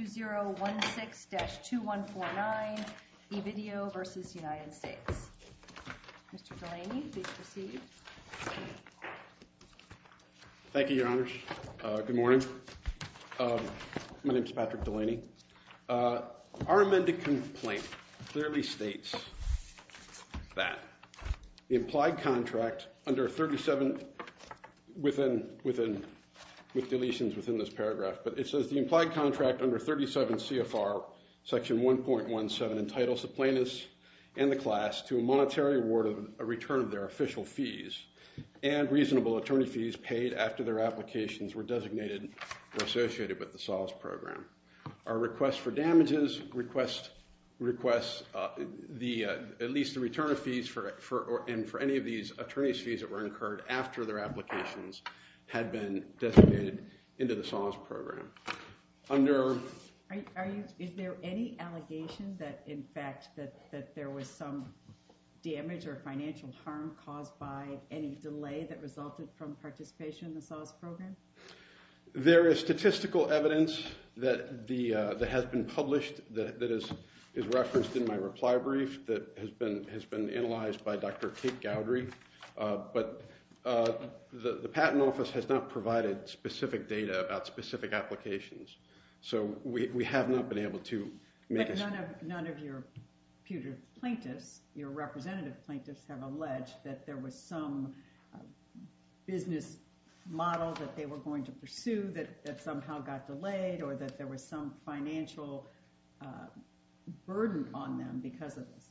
2016-2149 E-Video v. United States. Mr. Delaney, please proceed. Thank you, Your Honors. Good morning. My name is Patrick Delaney. Our amended complaint clearly states that the implied contract under 37, with deletions within this paragraph, but it says the implied contract under 37 CFR section 1.17 entitles the plaintiffs and the class to a monetary award of a return of their official fees and reasonable attorney fees paid after their applications were designated or associated with the Solace Program. Our request for damages requests at least the return of fees and for any of these attorney's fees that were under the Solace Program. Is there any allegation that in fact that there was some damage or financial harm caused by any delay that resulted from participation in the Solace Program? There is statistical evidence that has been published that is referenced in my reply brief that has been analyzed by Dr. Kate Gowdry, but the Patent Office has not provided specific data about specific applications, so we have not been able to make a... But none of your putative plaintiffs, your representative plaintiffs, have alleged that there was some business model that they were going to pursue that somehow got delayed or that there was some financial burden on them because of this.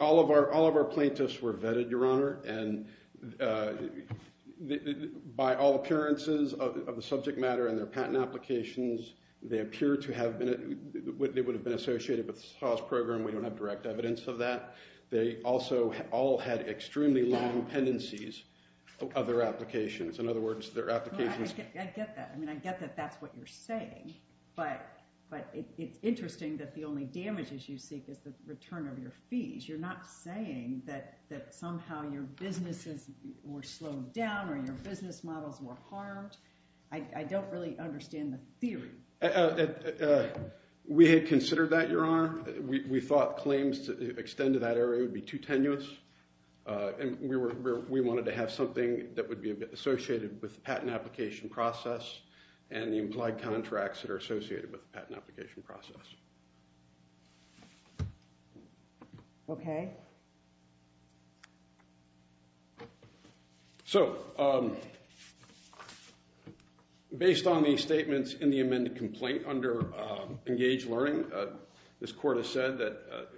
All of our plaintiffs were vetted, Your Honor, and by all appearances of the subject matter and their patent applications, they appear to have been... They would have been associated with the Solace Program. We don't have direct evidence of that. They also all had extremely long dependencies of their applications. In other words, their applications... I get that. I mean, I get that that's what you're saying, but it's interesting that the only damages you seek is the return of your fees. You're not saying that somehow your businesses were slowed down or your business models were harmed. I don't really understand the theory. We had considered that, Your Honor. We thought claims to extend to that area would be too tenuous, and we wanted to have something that would be associated with the patent application process and the implied contracts that are associated with the patent application process. Okay. So, based on the statements in the amended complaint under engaged learning, this court has said that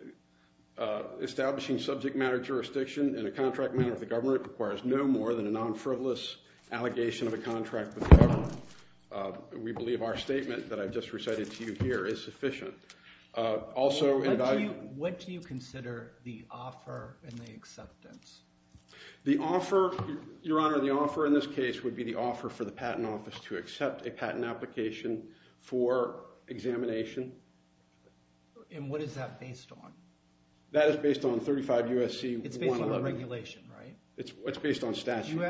establishing subject matter jurisdiction in a contract manner with the government requires no more than a non-frivolous allegation of a contract with the government. We believe our also... What do you consider the offer and the acceptance? The offer, Your Honor, the offer in this case would be the offer for the patent office to accept a patent application for examination. And what is that based on? That is based on 35 U.S.C. It's based on the regulation, right? It's based on statute.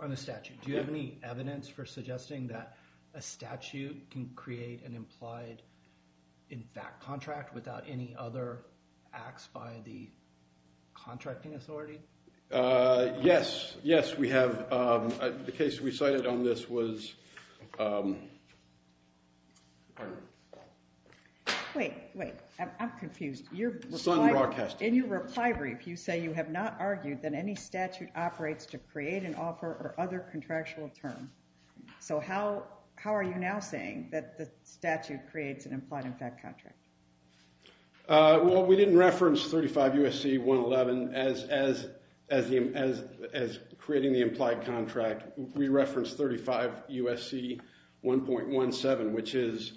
On the statute. Do you have any evidence for suggesting that a statute can create an implied in fact contract without any other acts by the contracting authority? Yes. Yes, we have. The case we cited on this was... Wait, wait. I'm confused. In your reply brief, you say you have not argued that any statute operates to create an offer or other contractual term. So, how are you now saying that the statute creates an implied in fact contract? Well, we didn't reference 35 U.S.C. 111 as creating the implied contract. We referenced 35 U.S.C. 1.17, which is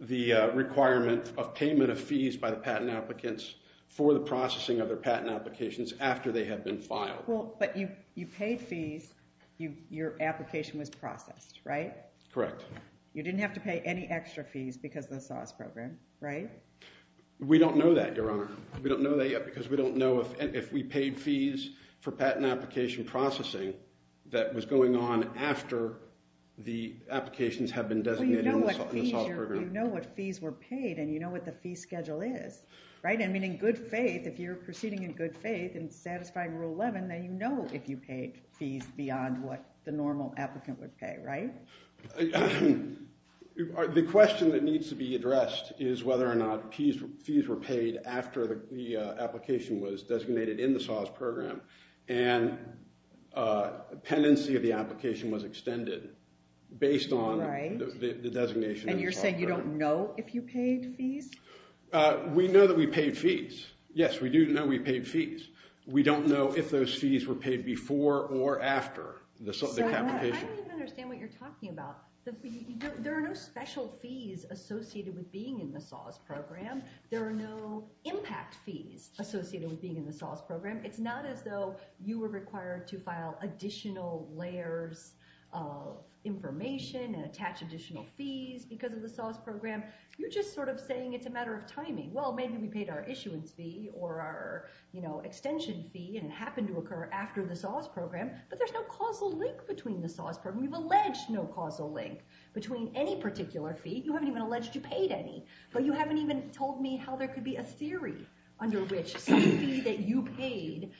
the requirement of payment of fees by the patent applicants for the processing of their patent applications after they have been filed. But you paid fees. Your application was processed, right? Correct. You didn't have to pay any extra fees because of the SAWS program, right? We don't know that, Your Honor. We don't know that yet because we don't know if we paid fees for patent application processing that was going on after the applications have been designated in the SAWS program. You know what fees were paid and you know what the fee schedule is, right? I mean, in good faith, if you're proceeding in good faith and you know if you paid fees beyond what the normal applicant would pay, right? The question that needs to be addressed is whether or not fees were paid after the application was designated in the SAWS program and a pendency of the application was extended based on the designation. And you're saying you don't know if you paid fees? We know that we paid fees. Yes, we do know we paid fees. We don't know if those fees were paid before or after the application. I don't even understand what you're talking about. There are no special fees associated with being in the SAWS program. There are no impact fees associated with being in the SAWS program. It's not as though you were required to file additional layers of information and attach additional fees because of the SAWS program. You're just sort of saying it's a matter of timing. Well, maybe we you know, extension fee and it happened to occur after the SAWS program, but there's no causal link between the SAWS program. We've alleged no causal link between any particular fee. You haven't even alleged you paid any, but you haven't even told me how there could be a theory under which some fee that you paid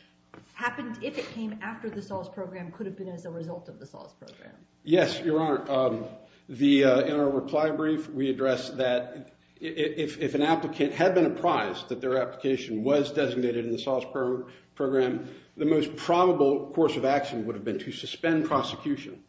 happened if it came after the SAWS program could have been as a result of the SAWS program. Yes, Your Honor. In our reply brief, we addressed that if an applicant had been apprised that their application was designated in the SAWS program, the most probable course of action would have been to suspend prosecution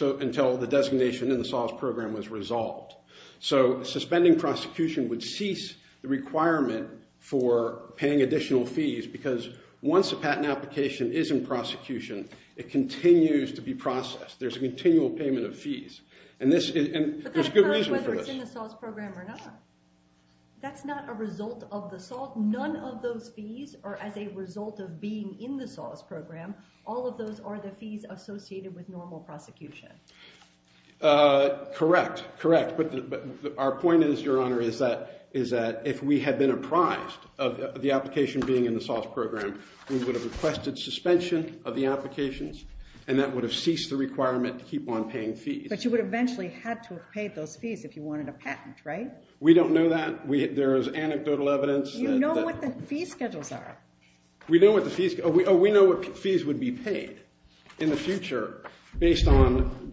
until the designation in the SAWS program was resolved. So, suspending prosecution would cease the requirement for paying additional fees because once a patent application is in prosecution, it continues to be processed. There's a continual payment of fees and there's good reason for this. But that's not whether it's in the SAWS program or not. That's not a result of the SAWS. None of those fees are as a result of being in the SAWS program. All of those are the fees associated with normal prosecution. Correct, correct. But our point is, Your Honor, is that if we had been apprised of the application being in the SAWS program, we would have requested suspension of the applications and that would have ceased the requirement to keep on paying fees. But you would eventually have to have paid those fees if you wanted a patent, right? We don't know that. There is anecdotal evidence. You know what the fee schedules are. We know what the fees are. We know what fees would be paid in the future based on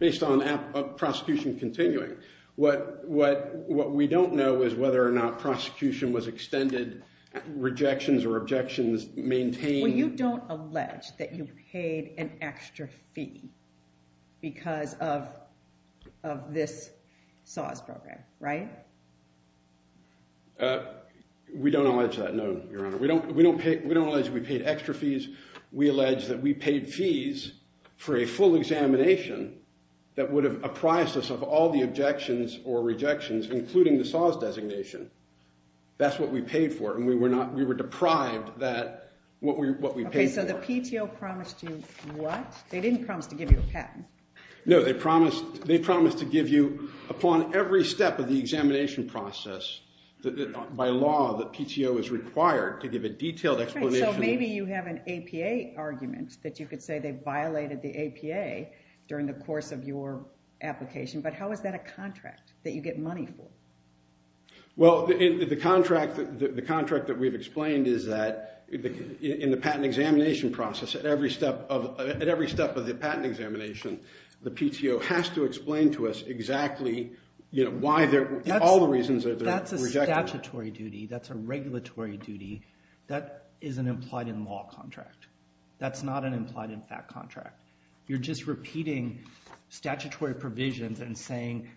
prosecution continuing. What we don't know is whether or not prosecution was extended, rejections or objections maintained. Well, you don't allege that you paid an extra fee because of this SAWS program, right? We don't allege that, no, Your Honor. We don't allege we paid extra fees. We allege that we paid fees for a full examination that would have apprised us of all the objections or rejections, including the SAWS designation. That's what we paid for and we were deprived that what we paid for. Okay, so the PTO promised you what? They didn't promise to give you a patent. No, they promised to give you upon every step of the examination process by law that PTO is required to give a detailed explanation. So maybe you have an APA argument that you could say they violated the APA during the course of your application. But how is that a contract that you get money for? Well, the contract that we've explained is that in the patent examination process, at every step of the patent examination, the PTO has to explain to us exactly why they're, all the reasons that they're rejecting. That's a statutory duty. That's a regulatory duty. That is an implied in law contract. That's not an implied in fact contract. You're just repeating statutory provisions and saying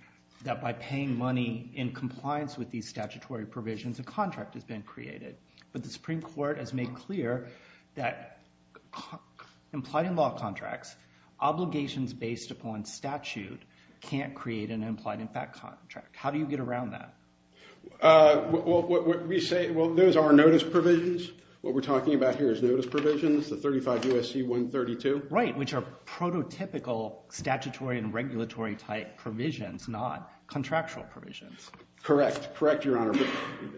that by paying money in compliance with these statutory provisions, a contract has been created. But the Supreme Court has made clear that implied in law contracts, obligations based upon statute, can't create an implied in fact contract. How do you get around that? Well, we say, well, those are notice provisions. What we're talking about here is notice provisions, the 35 U.S.C. 132. Right, which are prototypical statutory and regulatory type provisions, not contractual provisions. Correct. Correct, Your Honor.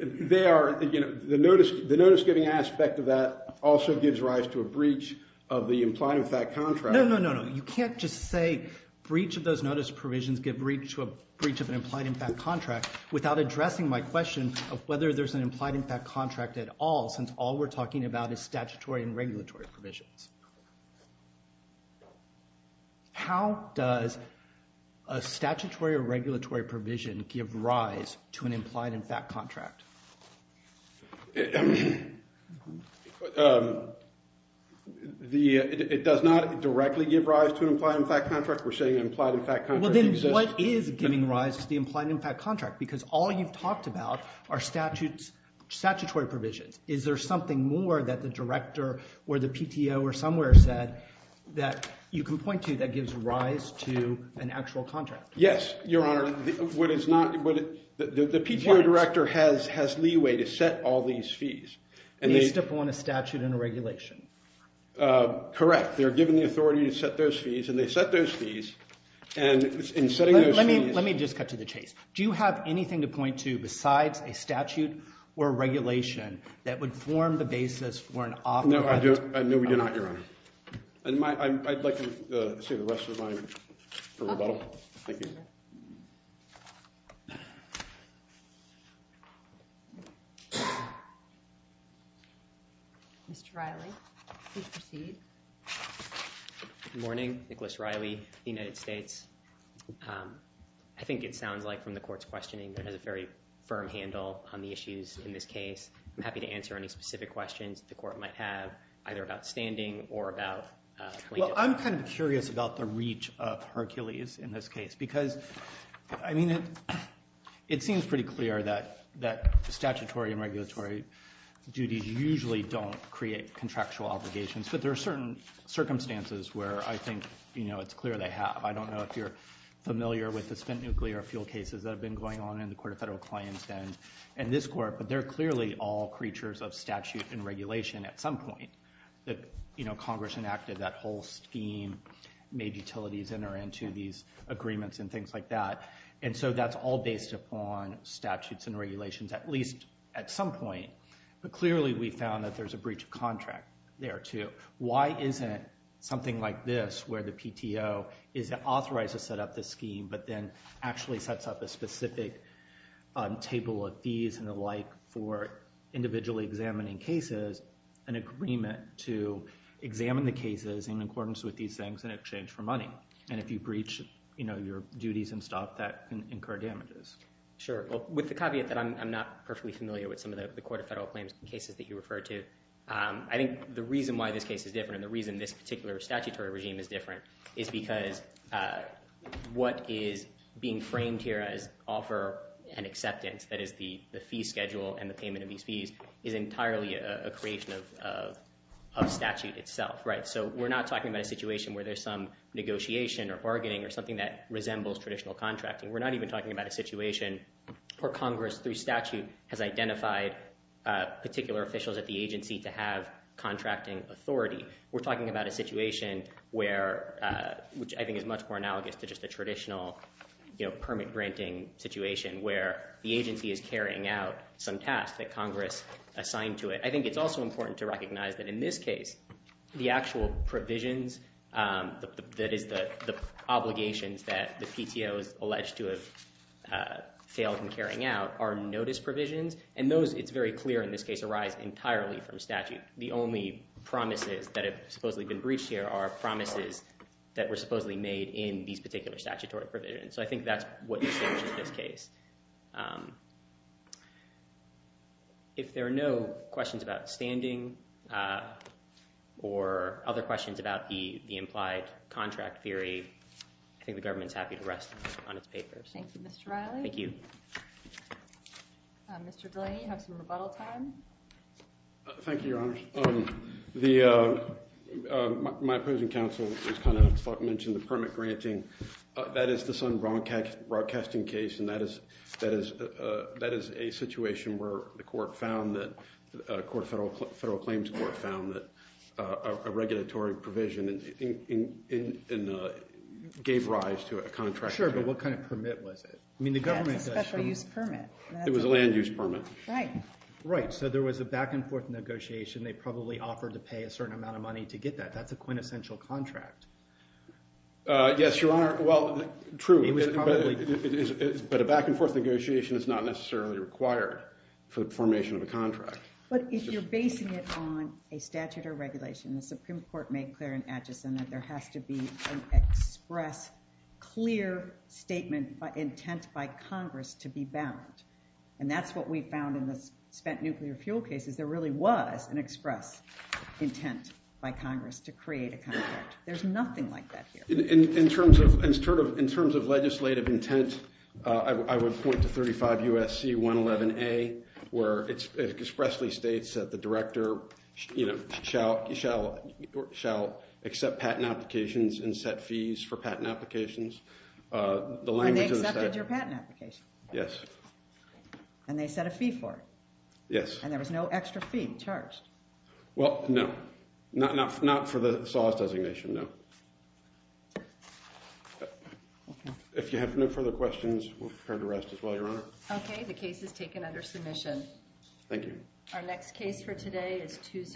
They are, you know, the notice, the notice giving aspect of that also gives rise to a breach of the implied in fact contract. No, no, no, no. You can't just say breach of those notice provisions give breach to a breach of an implied in fact contract without addressing my question of whether there's an implied in fact contract at all, since all we're talking about is statutory and regulatory provisions. How does a statutory or regulatory provision give rise to an implied in fact contract? It does not directly give rise to an implied in fact contract. We're saying an implied in fact contract exists. Well, then what is giving rise to the implied in fact contract? Because all you've talked about are statutes, statutory provisions. Is there something more that the director or the PTO or somewhere said that you can point to that gives rise to an actual contract? Yes, Your Honor. What is not, what the PTO director has has leeway to set all these fees. Based upon a statute and a regulation. Correct. They're given the authority to set those fees and they set those fees and in setting those fees. Let me just cut to the chase. Do you have anything to point to besides a statute or regulation that would form the basis for an offer? No, we do not, Your Honor. And I'd like to save the rest of mine for rebuttal. Thank you. Mr. Riley, please proceed. Good morning, Nicholas Riley, United States. I think it sounds like from the court's questioning that has a very firm handle on the issues in this case. I'm happy to answer any specific questions the court might have either about standing or about. Well, I'm kind of curious about the reach of Hercules in this case. Because I mean, it seems pretty clear that statutory and regulatory duties usually don't create contractual obligations. But there are certain circumstances where I think, you know, it's clear they have. I don't know if you're familiar with what's been going on in the Court of Federal Claims and this court, but they're clearly all creatures of statute and regulation at some point. You know, Congress enacted that whole scheme, made utilities enter into these agreements and things like that. And so that's all based upon statutes and regulations, at least at some point. But clearly we found that there's a breach of contract there too. Why isn't something like this where the PTO is authorized to set up the scheme but then actually sets up a specific table of fees and the like for individually examining cases, an agreement to examine the cases in accordance with these things in exchange for money? And if you breach, you know, your duties and stuff, that can incur damages. Sure. Well, with the caveat that I'm not perfectly familiar with some of the Court of Federal Claims cases that you referred to, I think the reason why this case is different and the reason this particular statutory regime is different is because what is being framed here as offer and acceptance, that is the fee schedule and the payment of these fees, is entirely a creation of statute itself, right? So we're not talking about a situation where there's some negotiation or bargaining or something that resembles traditional contracting. We're not even talking about a situation where Congress, through statute, has identified particular officials at the agency to have contracting authority. We're talking about a situation where, which I think is much more analogous to just a traditional, you know, permit granting situation where the agency is carrying out some tasks that Congress assigned to it. I think it's also important to recognize that in this case, the actual provisions, that is the obligations that the PTO is alleged to have failed in carrying out, are notice provisions. And those, it's very clear in this case, arise entirely from statute. The only promises that have supposedly been breached here are promises that were supposedly made in these particular statutory provisions. So I think that's what distinguishes this case. If there are no questions about standing or other questions about the implied contract theory, I think the government's happy to rest on its papers. Thank you, Mr. Riley. Thank you. Mr. Delaney, you have some rebuttal time. Thank you, Your Honor. The, my opposing counsel has kind of mentioned the permit granting. That is the son broadcasting case, and that is, that is, that is a situation where the court found that, the federal claims court found that a regulatory provision gave rise to a contract. Sure, but what kind of permit was it? I mean, the government does show. It's a special use permit. It was a land use permit. Right. Right. So there was a back and forth negotiation. They probably offered to pay a certain amount of money to get that. That's a quintessential contract. Yes, Your Honor. Well, true. But a back and forth negotiation is not necessarily required for the formation of a contract. But if you're basing it on a statute or regulation, the Supreme Court made clear in Atchison that there has to be an express, clear statement by intent by Congress to be bound. And that's what we found in the spent nuclear fuel cases. There really was an express intent by Congress to create a contract. There's nothing like that here. In terms of, in terms of legislative intent, I would point to 35 U.S.C. 111A, where it expressly states that the director, you know, shall, shall, shall accept patent applications and set fees for patent applications. The language of the statute. And they accepted your patent application? Yes. And they set a fee for it? Yes. And there was no extra fee charged? Well, no. Not for the SAWS designation, no. If you have no further questions, we're prepared to rest as well, Your Honor. Okay. The case is taken under submission. Thank you. Our next case for today is Tues